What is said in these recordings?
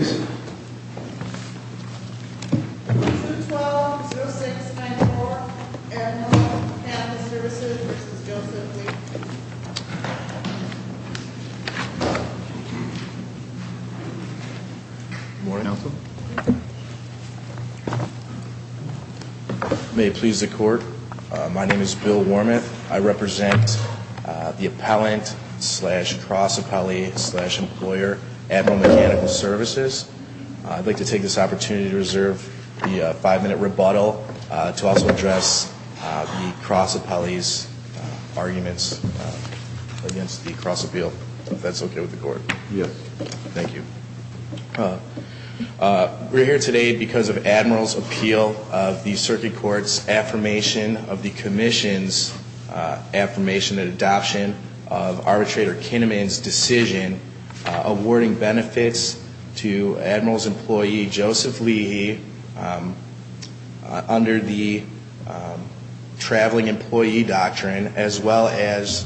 2-12-06-94 Admiral Mechanical Services v. Joseph Lee May it please the court, my name is Bill Wormuth, I represent the Appellant slash Cross-Appellee slash Employer Admiral Mechanical Services. I'd like to take this opportunity to reserve the five-minute rebuttal to also address the Cross-Appellee's arguments against the Cross-Appeal. If that's okay with the court? Yes. Thank you. We're here today because of Admiral's appeal of the Circuit Court's affirmation of the Commission's affirmation and adoption of Arbitrator Kinnaman's decision awarding benefits to Admiral's employee, Joseph Lee, under the Traveling Employee Doctrine as well as,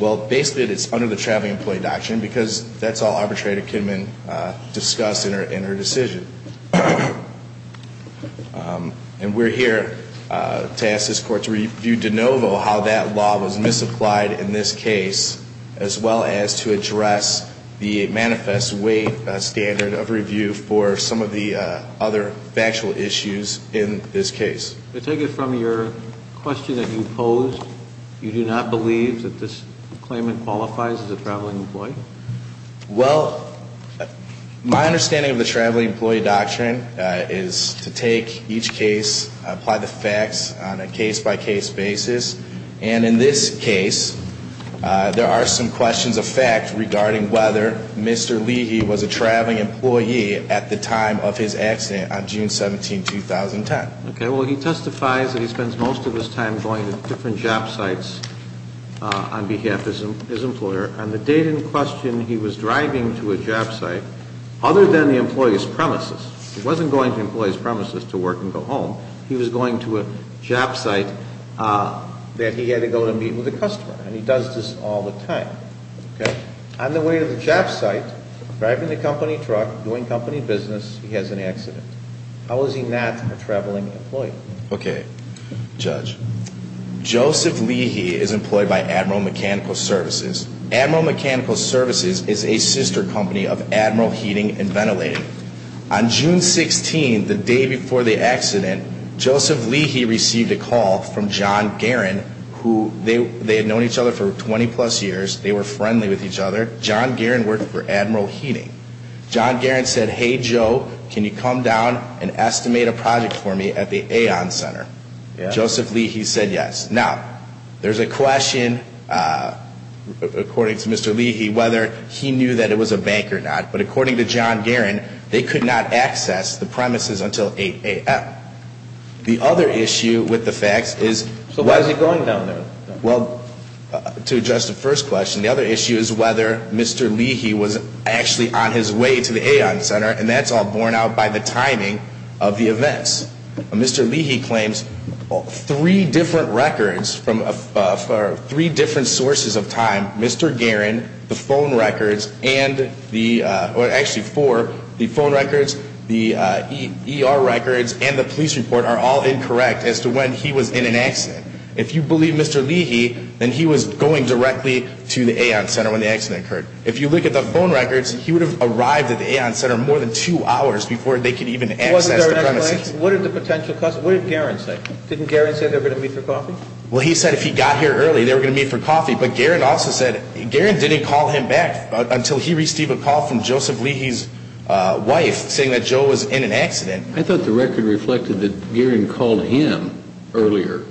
well basically it's under the Traveling Employee Doctrine because that's all Arbitrator Kinnaman discussed in her decision. And we're here to ask this court to review de novo how that law was misapplied in this case as well as to address the manifest weight standard of review for some of the other factual issues in this case. To take it from your question that you posed, you do not believe that this claimant qualifies as a traveling employee? Well, my understanding of the Traveling apply the facts on a case-by-case basis. And in this case, there are some questions of fact regarding whether Mr. Lee, he was a traveling employee at the time of his accident on June 17, 2010. Okay. Well, he testifies that he spends most of his time going to different job sites on behalf of his employer. On the date in question he was driving to a job site other than the employee's premises, he wasn't going to the employee's premises to work and go home. He was going to a job site that he had to go and meet with a customer. And he does this all the time. Okay. On the way to the job site, driving the company truck, doing company business, he has an accident. How is he not a traveling employee? Okay. Judge. Joseph Lee, he is employed by Admiral Mechanical Services. Admiral Mechanical Services is a sister company of Admiral Heating and Ventilating. On June 16, the day before the accident, Joseph Lee, he received a call from John Guerin, who they had known each other for 20-plus years. They were friendly with each other. John Guerin worked for Admiral Heating. John Guerin said, hey, Joe, can you come down and estimate a project for me at the Aon Center? Joseph Lee, he said yes. Now, there's a question according to Mr. Lee, whether he knew that it was a bank or not. But according to John Guerin, they could not access the premises until 8 a.m. The other issue with the facts is... So why is he going down there? Well, to address the first question, the other issue is whether Mr. Lee, he was actually on his way to the Aon Center, and that's all borne out by the timing of the events. Mr. Lee, he claims three different records from three different sources of time, Mr. Guerin, the phone records, and the, or actually four, the phone records, the ER records, and the police report are all incorrect as to when he was in an accident. If you believe Mr. Lee, he, then he was going directly to the Aon Center when the accident occurred. If you look at the phone records, he would have arrived at the Aon Center more than two hours before they could even access the premises. Wasn't there an explanation? What did the potential customer, what did Guerin say? Didn't Guerin say they were going to meet for coffee? Well, he said if he got here early, they were going to meet for coffee. But Guerin also said, Guerin didn't call him back until he received a call from Joseph Lee, his wife, saying that Joe was in an accident. I thought the record reflected that Guerin called him earlier.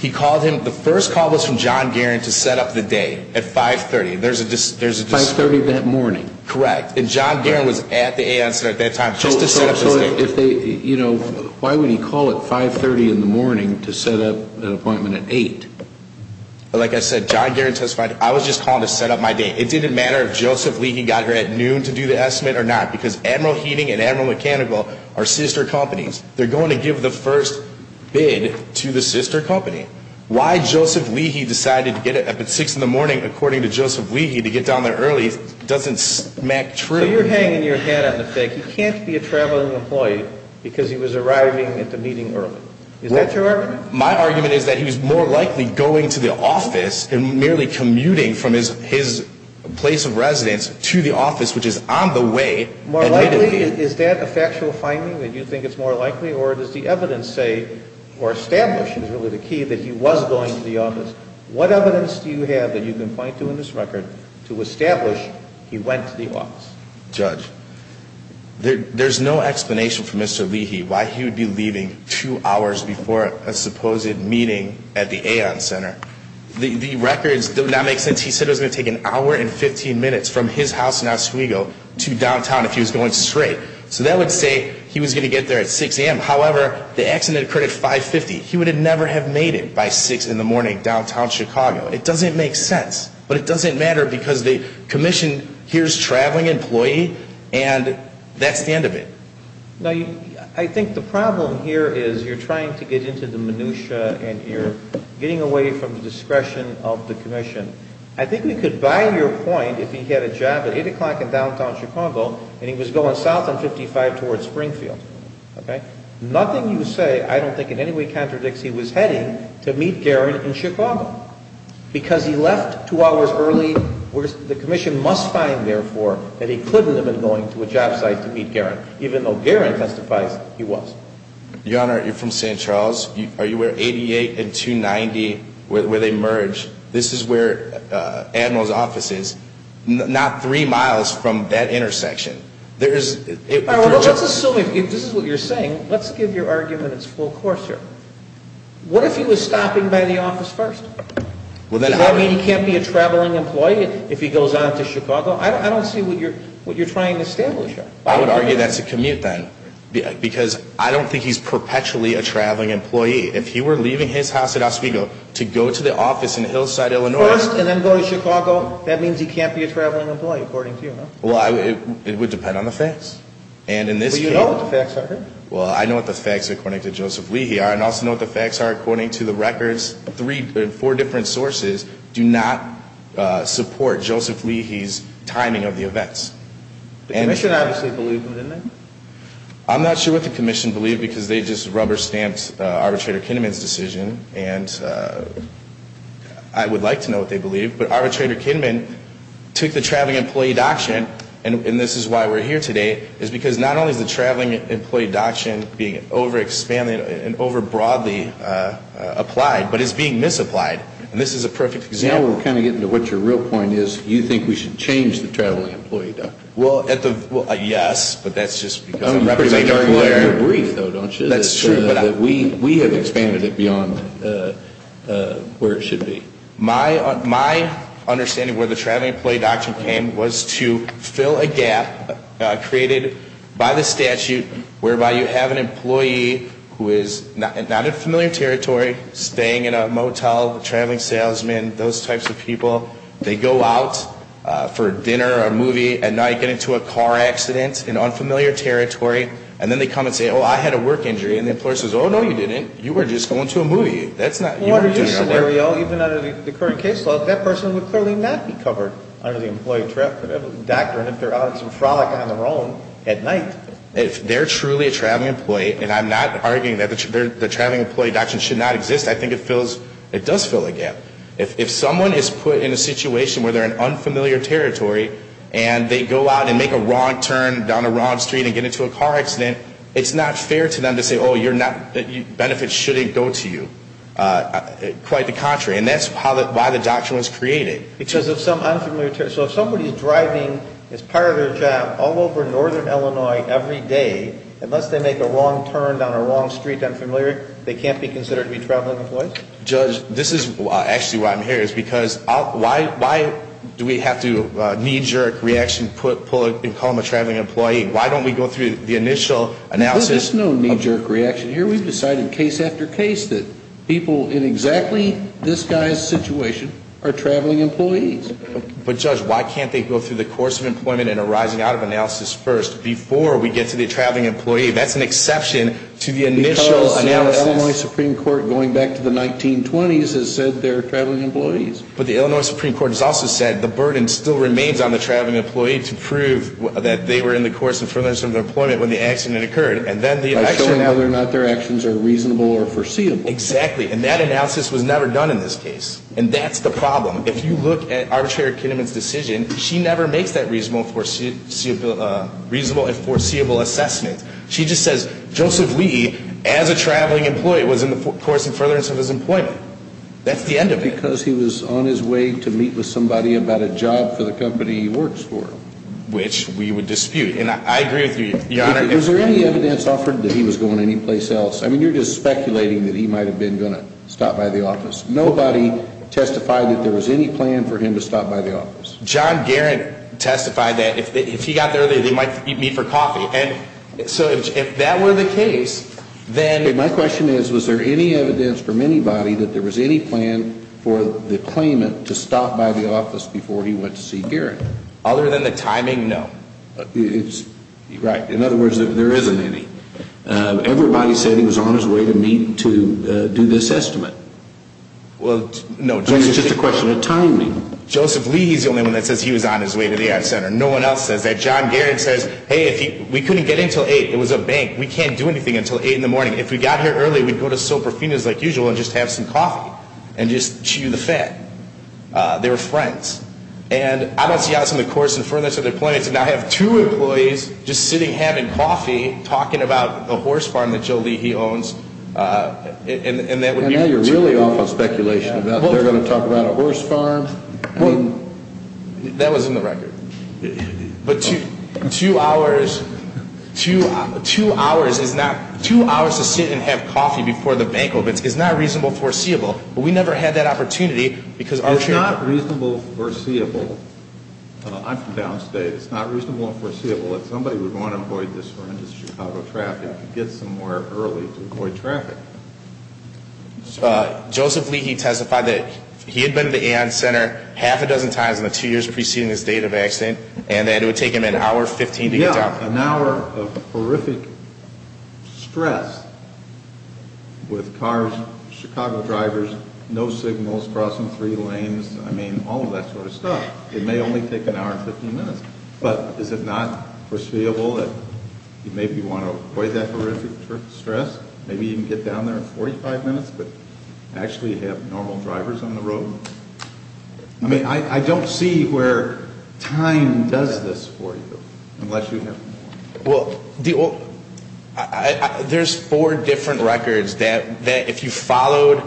He called him, the first call was from John Guerin to set up the date at 530. There's a, there's a 530 that morning. Correct. And John Guerin was at the Aon Center at that time just to set up the date. So, so if they, you know, why would he call at 530 in the morning? I'm not just calling to set up my date. It didn't matter if Joseph Lee, he got here at noon to do the estimate or not, because Admiral Heating and Admiral Mechanical are sister companies. They're going to give the first bid to the sister company. Why Joseph Lee, he decided to get up at six in the morning, according to Joseph Lee, he had to get down there early doesn't smack true. So you're hanging your hat on the fake. He can't be a traveling employee because he was arriving at the meeting early. Is that your argument? My argument is that he was more likely going to the office and merely commuting from his, his place of residence to the office, which is on the way. More likely, is that a factual finding that you think it's more likely or does the evidence say or establish is really the key that he was going to the office? What evidence do you have that you can point to in this record to establish he went to the office? Judge, there's no explanation for Mr. Heating and Admiral Mechanical's supposed meeting at the Aon Center. The records do not make sense. He said it was going to take an hour and 15 minutes from his house in Oswego to downtown if he was going straight. So that would say he was going to get there at 6 a.m. However, the accident occurred at 5.50. He would have never have made it by six in the morning downtown Chicago. It doesn't make sense, but it doesn't matter because they commissioned here's traveling employee and that's the end of it. Now, I think the problem here is you're trying to get into the minutiae and you're getting away from the discretion of the commission. I think we could buy your point if he had a job at 8 o'clock in downtown Chicago and he was going south on 55 towards Springfield. Okay? Nothing you say I don't think in any way contradicts he was heading to meet Garren in Chicago. Because he left two hours early, the commission must find, therefore, that he couldn't have been going to a job site to meet Garren, even though Garren testifies he was. Your Honor, you're from St. Charles. Are you where 88 and 290, where they merge, this is where Admiral's office is, not three miles from that intersection. Let's assume, if this is what you're saying, let's give your argument its full course here. What if he was stopping by the office first? Does that mean he can't be a traveling employee if he goes on to Chicago? I don't see what you're trying to establish here. I would argue that's a commute, then. Because I don't think he's perpetually a traveling employee. If he were leaving his house at Oswego to go to the office in Hillside, Illinois... First and then go to Chicago, that means he can't be a traveling employee, according to you, no? Well, it would depend on the facts. And in this case... But you know what the facts are here. Well, I know what the facts according to Joseph Leahy are, and I also know what the facts are according to the records. Three, four different sources do not support Joseph Leahy's timing of the events. The Commission obviously believed him, didn't they? I'm not sure what the Commission believed, because they just rubber-stamped Arbitrator Kinnaman's decision, and I would like to know what they believed. But Arbitrator Kinnaman took the traveling employee doctrine, and this is why we're here today, is because not only is the traveling employee doctrine being over-expanded and over-broadly applied, but it's being misapplied. And this is a perfect example. Now we're kind of getting to what your real point is. You think we should change the traveling employee doctrine? Well, at the... Well, yes, but that's just because I'm representing a lawyer. I'm pretty much arguing your brief, though, don't you? That's true, but I... That we have expanded it beyond where it should be. My understanding where the traveling employee doctrine came was to fill a gap created by the statute whereby you have an employee who is not in familiar territory, staying in a motel, traveling salesman, those types of people, they go out for dinner or a movie at night, get into a car accident in unfamiliar territory, and then they come and say, oh, I had a work injury, and the employer says, oh, no, you didn't. You were just going to a movie. That's not... Well, under this scenario, even under the current case law, that person would clearly not be covered under the employee traveling doctor, and if they're out on some frolic on their own at night... If they're truly a traveling employee, and I'm not arguing that the traveling employee doctrine should not exist, I think it does fill a gap. If someone is put in a situation where they're in unfamiliar territory, and they go out and make a wrong turn down a wrong street and get into a car accident, it's not fair to them to say, oh, you're not... Benefits shouldn't go to you. Quite the contrary, and that's why the doctrine was created. Because of some unfamiliar... So if somebody's driving as part of their job all over northern Illinois every day, unless they make a wrong turn down a wrong street, unfamiliar, they can't be considered to be traveling employees? Judge, this is actually why I'm here, is because why do we have to knee-jerk reaction, put pull it, and call them a traveling employee? Why don't we go through the initial analysis... There's no knee-jerk reaction here. We've decided case after case that people in exactly this guy's situation are traveling employees. But Judge, why can't they go through the course of employment and arising out of analysis first before we get to the traveling employee? That's an exception to the initial analysis... The Illinois Supreme Court, going back to the 1920s, has said they're traveling employees. But the Illinois Supreme Court has also said the burden still remains on the traveling employee to prove that they were in the course and furthest from their employment when the accident occurred. By showing whether or not their actions are reasonable or foreseeable. Exactly. And that analysis was never done in this case. And that's the problem. If you look at Arbitrator Kinnaman's decision, she never makes that reasonable and foreseeable assessment. She just says, Joseph Lee, as a traveling employee, was in the course and furthest of his employment. That's the end of it. Because he was on his way to meet with somebody about a job for the company he works for. Which we would dispute. And I agree with you, Your Honor. Was there any evidence offered that he was going anyplace else? I mean, you're just speculating that he might have been going to stop by the office. Nobody testified that there was any plan for him to stop by the office. John Guerin testified that if he got there, they might meet for coffee. And so, if that were the case, then... Okay, my question is, was there any evidence from anybody that there was any plan for the claimant to stop by the office before he went to see Guerin? Other than the timing, no. Right. In other words, there isn't any. Everybody said he was on his way to meet to do this estimate. Well, no. I mean, it's just a question of timing. Joseph Lee is the only one that says he was on his way to the Ad Center. No one else says that. John Guerin says, hey, we couldn't get in until 8. It was a bank. We can't do anything until 8 in the morning. If we got here early, we'd go to Soprafina's like usual and just have some coffee. And just chew the fat. They were friends. And I don't see us in the course and furthest of the claimants to now have two employees just sitting, having coffee, talking about the horse farm that Joe Lee, he owns. And now you're really off on speculation about they're going to talk about a horse farm. Well, that was in the record. But two hours, two hours is not, two hours to sit and have coffee before the bank opens is not reasonable foreseeable. But we never had that opportunity because our... It's not reasonable foreseeable. I'm from downstate. It's not reasonable and foreseeable that somebody would want to avoid this horrendous Chicago traffic to get somewhere early to avoid traffic. Joseph Lee, he testified that he had been to the AON Center half a dozen times in the two years preceding his date of accident and that it would take him an hour and 15 to get down. Yeah, an hour of horrific stress with cars, Chicago drivers, no signals crossing three lanes. I mean, all of that sort of stuff. It may only take an hour and 15 minutes. But is it not foreseeable that you'd maybe want to avoid that horrific stress? Maybe you can get down there in 45 minutes but actually have normal drivers on the road? I mean, I don't see where time does this for you unless you have... Well, there's four different records that if you followed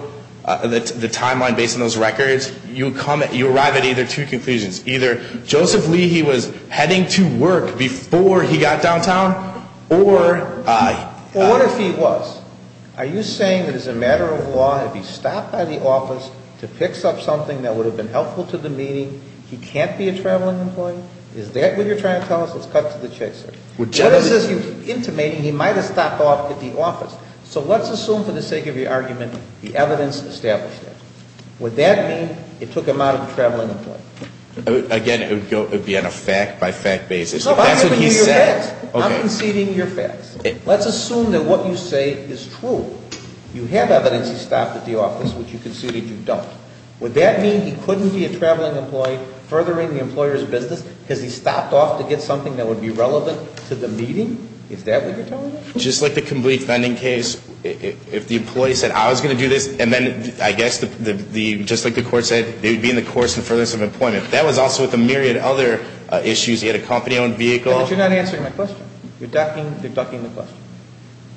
the timeline based on those records, you arrive at either two conclusions. Either Joseph Lee, he was heading to work before he got downtown or... He was. Are you saying that as a matter of law, if he stopped by the office to pick up something that would have been helpful to the meeting, he can't be a traveling employee? Is that what you're trying to tell us? Let's cut to the chase here. What is this you're intimating? He might have stopped off at the office. So let's assume for the sake of your argument, the evidence established that. Would that mean it took him out of the traveling employment? Again, it would be on a fact-by-fact basis. No, I'm giving you your facts. I'm conceding your facts. Let's assume that what you say is true. You have evidence he stopped at the office, which you conceded you don't. Would that mean he couldn't be a traveling employee furthering the employer's business because he stopped off to get something that would be relevant to the meeting? Is that what you're telling us? Just like the complete funding case, if the employee said, I was going to do this, and then, I guess, just like the court said, it would be in the course and furthest of employment. That was also with a myriad of other issues. He had a company-owned vehicle. No, but you're not answering my question. You're ducking the question.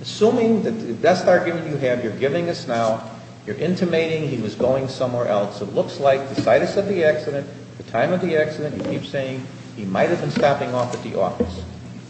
Assuming that that's the argument you have, you're giving us now, you're intimating he was going somewhere else. It looks like the situs of the accident, the time of the accident, you keep saying he might have been stopping off at the office.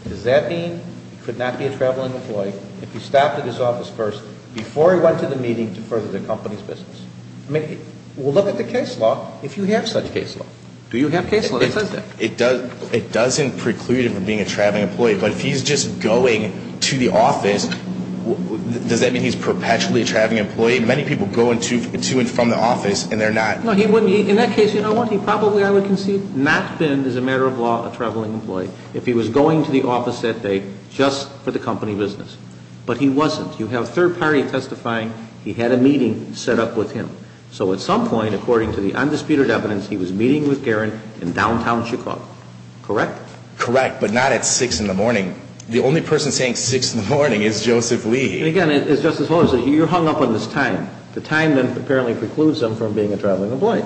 Does that mean he could not be a traveling employee if he stopped at his office first before he went to the meeting to further the company's business? I mean, we'll look at the case law, if you have such case law. Do you have case law that says that? It doesn't preclude him from being a traveling employee, but if he's just going to the office, does that mean he's perpetually a traveling employee? Many people go to and from the office, and they're not. No, he wouldn't. In that case, you know what? He probably, I would concede, not been, as a matter of law, a traveling employee if he was going to the office that day just for the company business. But he wasn't. You have a third party testifying. He had a meeting set up with him. So at some point, according to the undisputed evidence, he was meeting with Garen in downtown Chicago. Correct? Correct, but not at 6 in the morning. The only person saying 6 in the morning is Joseph Lee. Again, as Justice Holder said, you're hung up on this time. The time then apparently precludes him from being a traveling employee.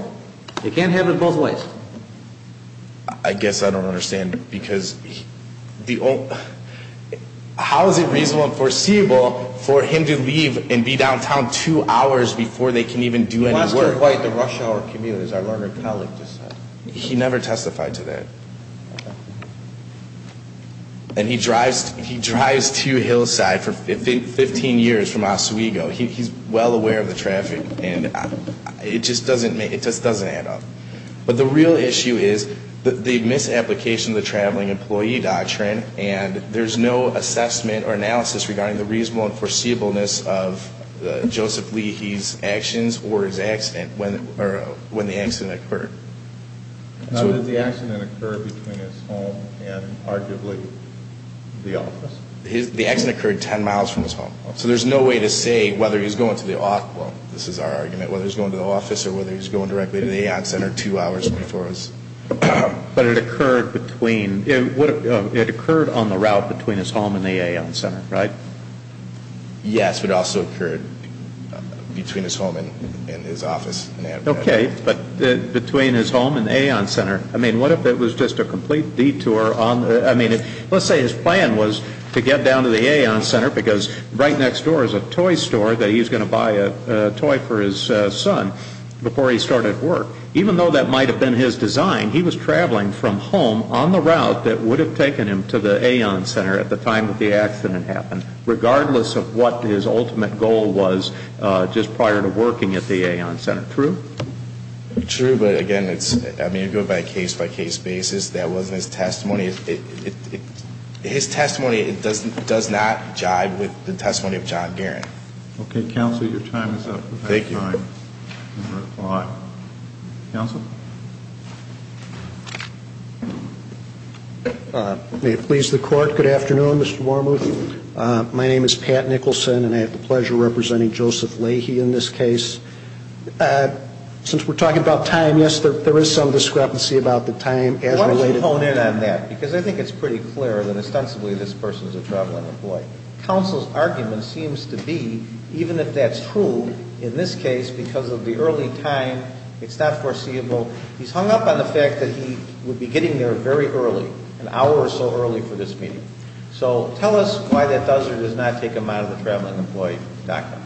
You can't have it both ways. I guess I don't understand, because the old, how is it reasonable and foreseeable for him to leave and be downtown two hours before they can even do any work? He must have quite the rush hour commute, as our learned colleague just said. He never testified to that. And he drives to Hillside for 15 years from Oswego. He's well aware of the traffic, and it just doesn't add up. But the real issue is the misapplication of the traveling employee doctrine, and there's no assessment or analysis regarding the reasonable and foreseeableness of Joseph Lee, his actions, or his accident, or when the accident occurred. Now, did the accident occur between his home and arguably the office? The accident occurred 10 miles from his home. So there's no way to say whether he was going to the off, well, this is our argument, whether he was going to the office or whether he was going directly to the Aon Center two hours before his. But it occurred between, it occurred on the route between his home and the Aon Center, right? Yes, but it also occurred between his home and his office. Okay, but between his home and the Aon Center. I mean, what if it was just a complete detour on, I mean, let's say his plan was to get down to the Aon Center because right next door is a toy store that he's going to buy a toy for his son before he started work. Even though that might have been his design, he was traveling from home on the route that would have taken him to the Aon Center at the time that the accident happened, regardless of what his ultimate goal was just prior to working at the Aon Center. True? True, but again, it's, I mean, you go by case-by-case basis. That wasn't his testimony. His testimony does not jive with the testimony of John Guerin. Okay, Counsel, your time is up. Thank you. Your time is up. Counsel? May it please the Court, good afternoon, Mr. Wormuth. My name is Pat Nicholson and I have the pleasure of representing Joseph Leahy in this case. Since we're talking about time, yes, there is some discrepancy about the time as related Why don't you hone in on that? Because I think it's pretty clear that ostensibly this person was a traveling employee. Counsel's argument seems to be, even if that's true, in this case, because of the early time, it's not foreseeable, he's hung up on the fact that he would be getting there very early, an hour or so early for this meeting. So tell us why that does or does not take him out of the traveling employee document.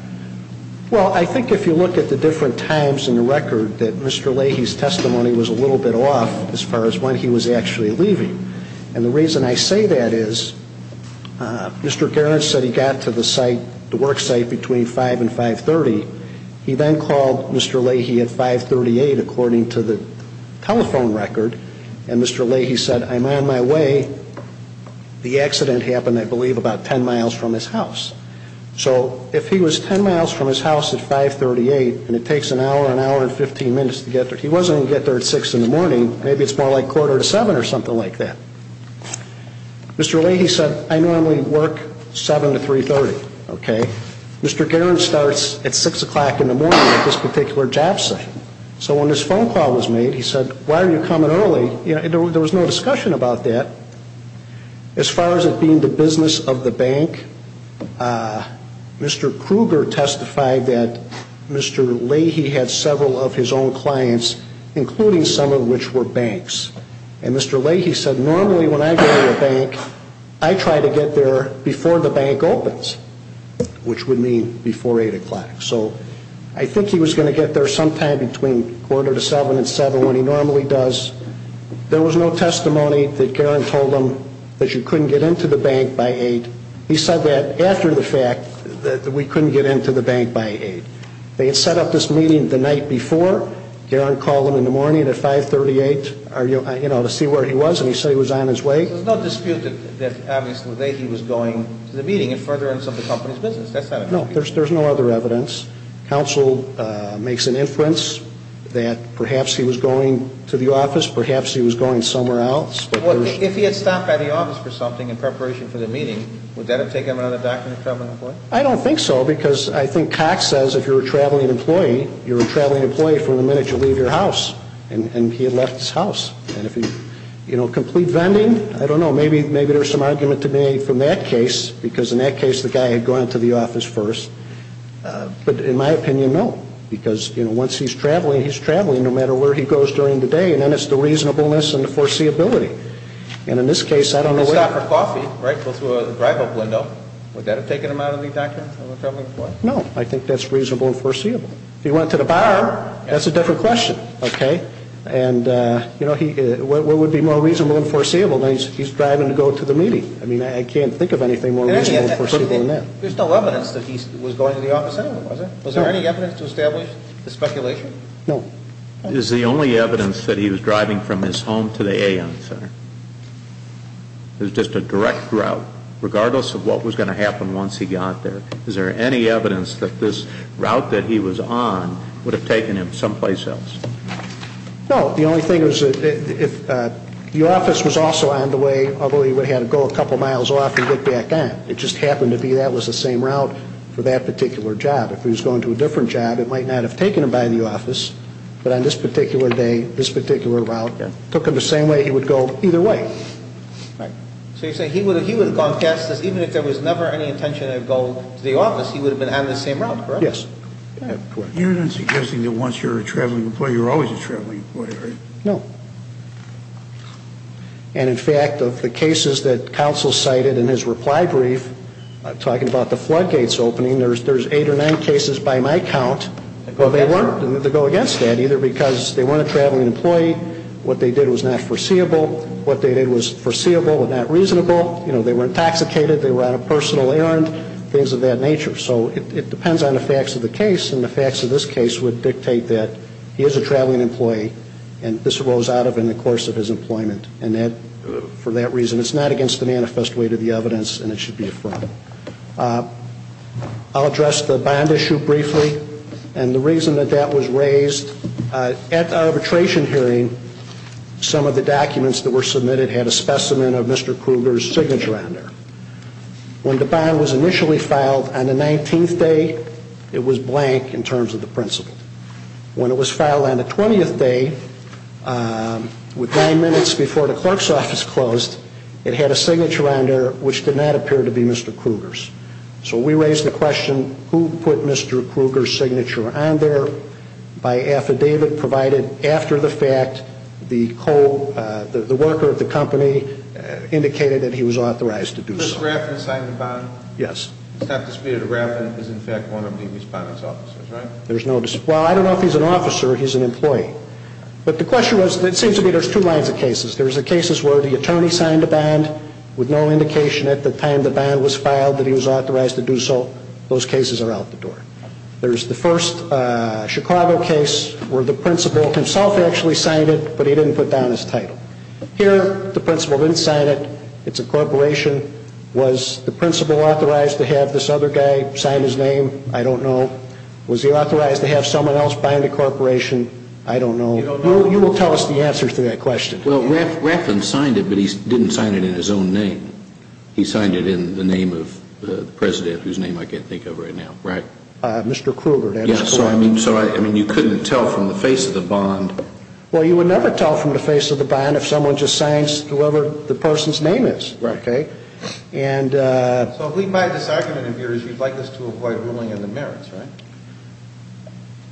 Well, I think if you look at the different times in the record, that Mr. Leahy's testimony was a little bit off as far as when he was actually leaving. And the reason I say that is, Mr. Gerrits said he got to the site, the work site, between 5 and 5.30. He then called Mr. Leahy at 5.38, according to the telephone record, and Mr. Leahy said, I'm on my way. The accident happened, I believe, about 10 miles from his house. So if he was 10 miles from his house at 5.38, and it takes an hour, an hour and 15 minutes to get there, he wasn't going to get there at 6 in the morning, maybe it's more like quarter to 7 or something like that. Mr. Leahy said, I normally work 7 to 3.30, okay? Mr. Gerrits starts at 6 o'clock in the morning at this particular job site. So when this phone call was made, he said, why are you coming early? There was no discussion about that. As far as it being the business of the bank, Mr. Kruger testified that Mr. Leahy had several of his own clients, including some of which were banks. And Mr. Leahy said, normally when I go to a bank, I try to get there before the bank opens, which would mean before 8 o'clock. So I think he was going to get there sometime between quarter to 7 and 7, when he normally does. There was no testimony that Gerrin told him that you couldn't get into the bank by 8. He said that after the fact, that we couldn't get into the bank by 8. They had set up this meeting the night before. Gerrin called him in the morning at 5.38, you know, to see where he was, and he said he was on his way. There's no dispute that obviously Leahy was going to the meeting in furtherance of the company's business. No, there's no other evidence. Counsel makes an inference that perhaps he was going to the office, perhaps he was going somewhere else. If he had stopped by the office for something in preparation for the meeting, would that have taken him under the doctrine of traveling employee? I don't think so, because I think Cox says if you're a traveling employee, you're a traveling employee from the minute you leave your house. And he had left his house. And if he, you know, complete vending, I don't know, maybe there's some argument to be made from that case, because in that case the guy had gone to the office first. But in my opinion, no. Because, you know, once he's traveling, he's traveling no matter where he goes during the day, and then it's the reasonableness and the foreseeability. And in this case, I don't know If he went to a drive-up window, would that have taken him out of the doctrine of a traveling employee? No, I think that's reasonable and foreseeable. If he went to the bar, that's a different question, okay? And, you know, what would be more reasonable and foreseeable than he's driving to go to the meeting? I mean, I can't think of anything more reasonable and foreseeable than that. There's no evidence that he was going to the office anyway, was there? Was there any evidence to establish the speculation? No. Is the only evidence that he was driving from his home to the A.M. Center? It was just a direct route, regardless of what was going to happen once he got there. Is there any evidence that this route that he was on would have taken him someplace else? No. The only thing is, the office was also on the way, although he would have had to go a couple miles off and get back on. It just happened to be that was the same route for that particular job. If he was going to a different job, it took him the same way he would go either way. So you're saying he would have gone past this even if there was never any intention of going to the office, he would have been on the same route, correct? Yes. You're not suggesting that once you're a traveling employee, you're always a traveling employee, are you? No. And, in fact, of the cases that counsel cited in his reply brief, talking about the floodgates opening, there's eight or nine cases by my employee. What they did was not foreseeable. What they did was foreseeable but not reasonable. You know, they were intoxicated, they were on a personal errand, things of that nature. So it depends on the facts of the case. And the facts of this case would dictate that he is a traveling employee and this arose out of in the course of his employment. And for that reason, it's not against the manifest way to the evidence and it should be affirmed. I'll address the bond issue briefly. And the reason that that was raised at arbitration hearing, some of the documents that were submitted had a specimen of Mr. Krueger's signature on there. When the bond was initially filed on the 19th day, it was blank in terms of the principle. When it was filed on the 20th day, with nine minutes before the clerk's office closed, it had a signature on there which did not appear to be Mr. Krueger's. So we raised the question, who put Mr. Krueger's signature on there by affidavit provided after the fact, the worker of the company indicated that he was authorized to do so. Mr. Raffin signed the bond? Yes. It's not disputed that Raffin is in fact one of the respondents' officers, right? There's no dispute. Well, I don't know if he's an officer or he's an employee. But the question was, it seems to me there's two lines of cases. There's the cases where the attorney signed the bond with no indication at the time the bond was filed that he was authorized to do so. Those cases are out the door. There's the first Chicago case where the principal himself actually signed it, but he didn't put down his title. Here, the principal didn't sign it. It's a corporation. Was the principal authorized to have this other guy sign his name? I don't know. Was he authorized to have someone else bind a corporation? I don't know. You will tell us the answers to that question. Well, Raffin signed it, but he didn't sign it in his own name. He signed it in the name of the president, whose name I can't think of right now, right? Mr. Krueger. So you couldn't tell from the face of the bond? Well, you would never tell from the face of the bond if someone just signs whoever the person's name is. Right. Okay? So if we buy this argument of yours, you'd like us to avoid ruling in the merits, right?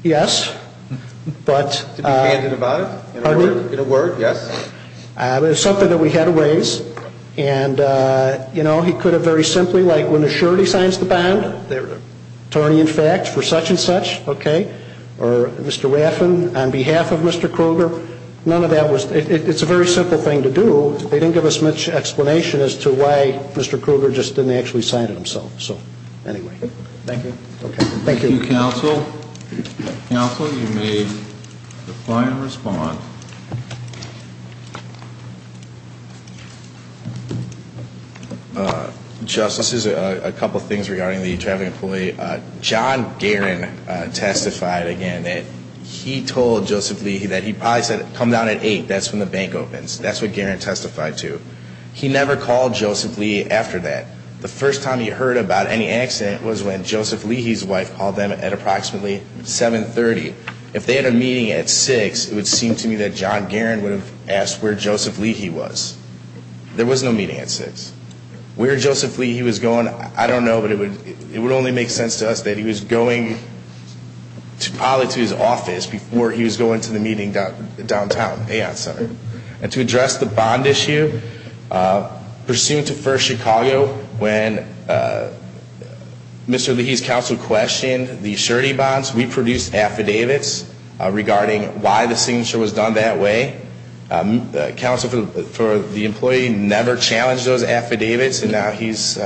Yes. To be candid about it? In a word, yes? It's something that we had to raise. And, you know, he could have very simply, like for such and such, okay, or Mr. Raffin on behalf of Mr. Krueger. None of that was, it's a very simple thing to do. They didn't give us much explanation as to why Mr. Krueger just didn't actually sign it himself. So, anyway. Thank you. Okay. Thank you. Thank you, counsel. Counsel, you may reply and respond. Justices, a couple things regarding the traveling employee. John Guerin testified again that he told Joseph Leahy that he probably said come down at 8. That's when the bank opens. That's what Guerin testified to. He never called Joseph Leahy after that. The first time he heard about any accident was when Joseph Leahy's wife called them at approximately 7.30. If they had a meeting at 6, it would seem to me that John Guerin would have asked where Joseph Leahy was. There was no meeting at 6. Where Joseph Leahy was going, I don't know, but it would only make sense to us that he was going probably to his office before he was going to the meeting downtown, Aon Center. And to address the bond issue, pursuant to First Chicago, when Mr. Leahy's counsel questioned the surety bonds, we produced affidavits regarding why the signature was done that way. The counsel for the employee never challenged those affidavits, and now he's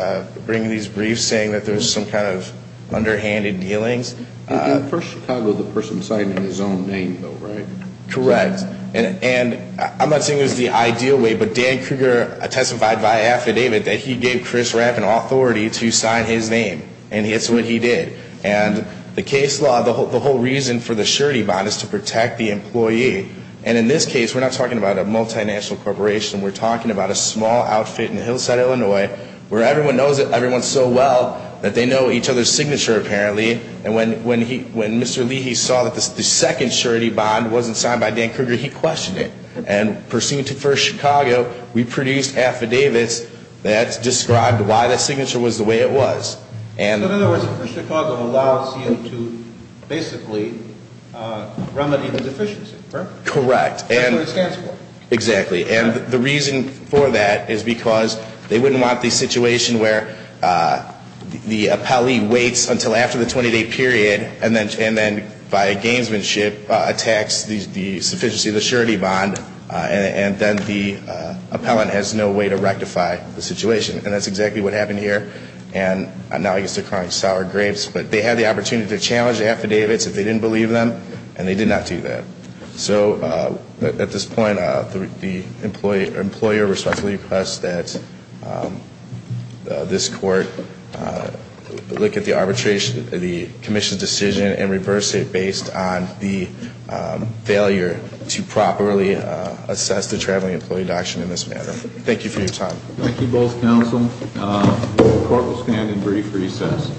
bringing these briefs saying that there's some kind of underhanded dealings. First Chicago, the person signed in his own name, though, right? Correct. And I'm not saying it was the ideal way, but Dan Kruger testified by affidavit that he gave Chris Rapp an authority to sign his name, and it's what he did. And the case law, the whole reason for the surety bond is to protect the employee. And in this case, we're not talking about a multinational corporation. We're talking about a small outfit in Hillside, Illinois, where everyone knows everyone so well that they know each other's signature, apparently. And when Mr. Leahy saw that the second surety bond wasn't signed by Dan Kruger, he questioned it. And pursuant to First Chicago, we produced affidavits that described why the signature was the way it was. So in other words, First Chicago allows him to basically remedy the deficiency, correct? Correct. That's what it stands for. Exactly. And the reason for that is because they wouldn't want the situation where the appellee waits until after the 20-day period, and then by gamesmanship attacks the sufficiency of the surety bond, and then the appellant has no way to rectify the situation. And that's exactly what happened here. And now I guess they're crying sour grapes. But they had the opportunity to challenge the affidavits if they didn't believe them, and they did not do that. So at this point, the employer responsibly requests that this court look at the arbitration of the commission's decision and reverse it based on the failure to properly assess the traveling employee doctrine in this matter. Thank you for your time. Thank you both, counsel. The court will stand in brief recess.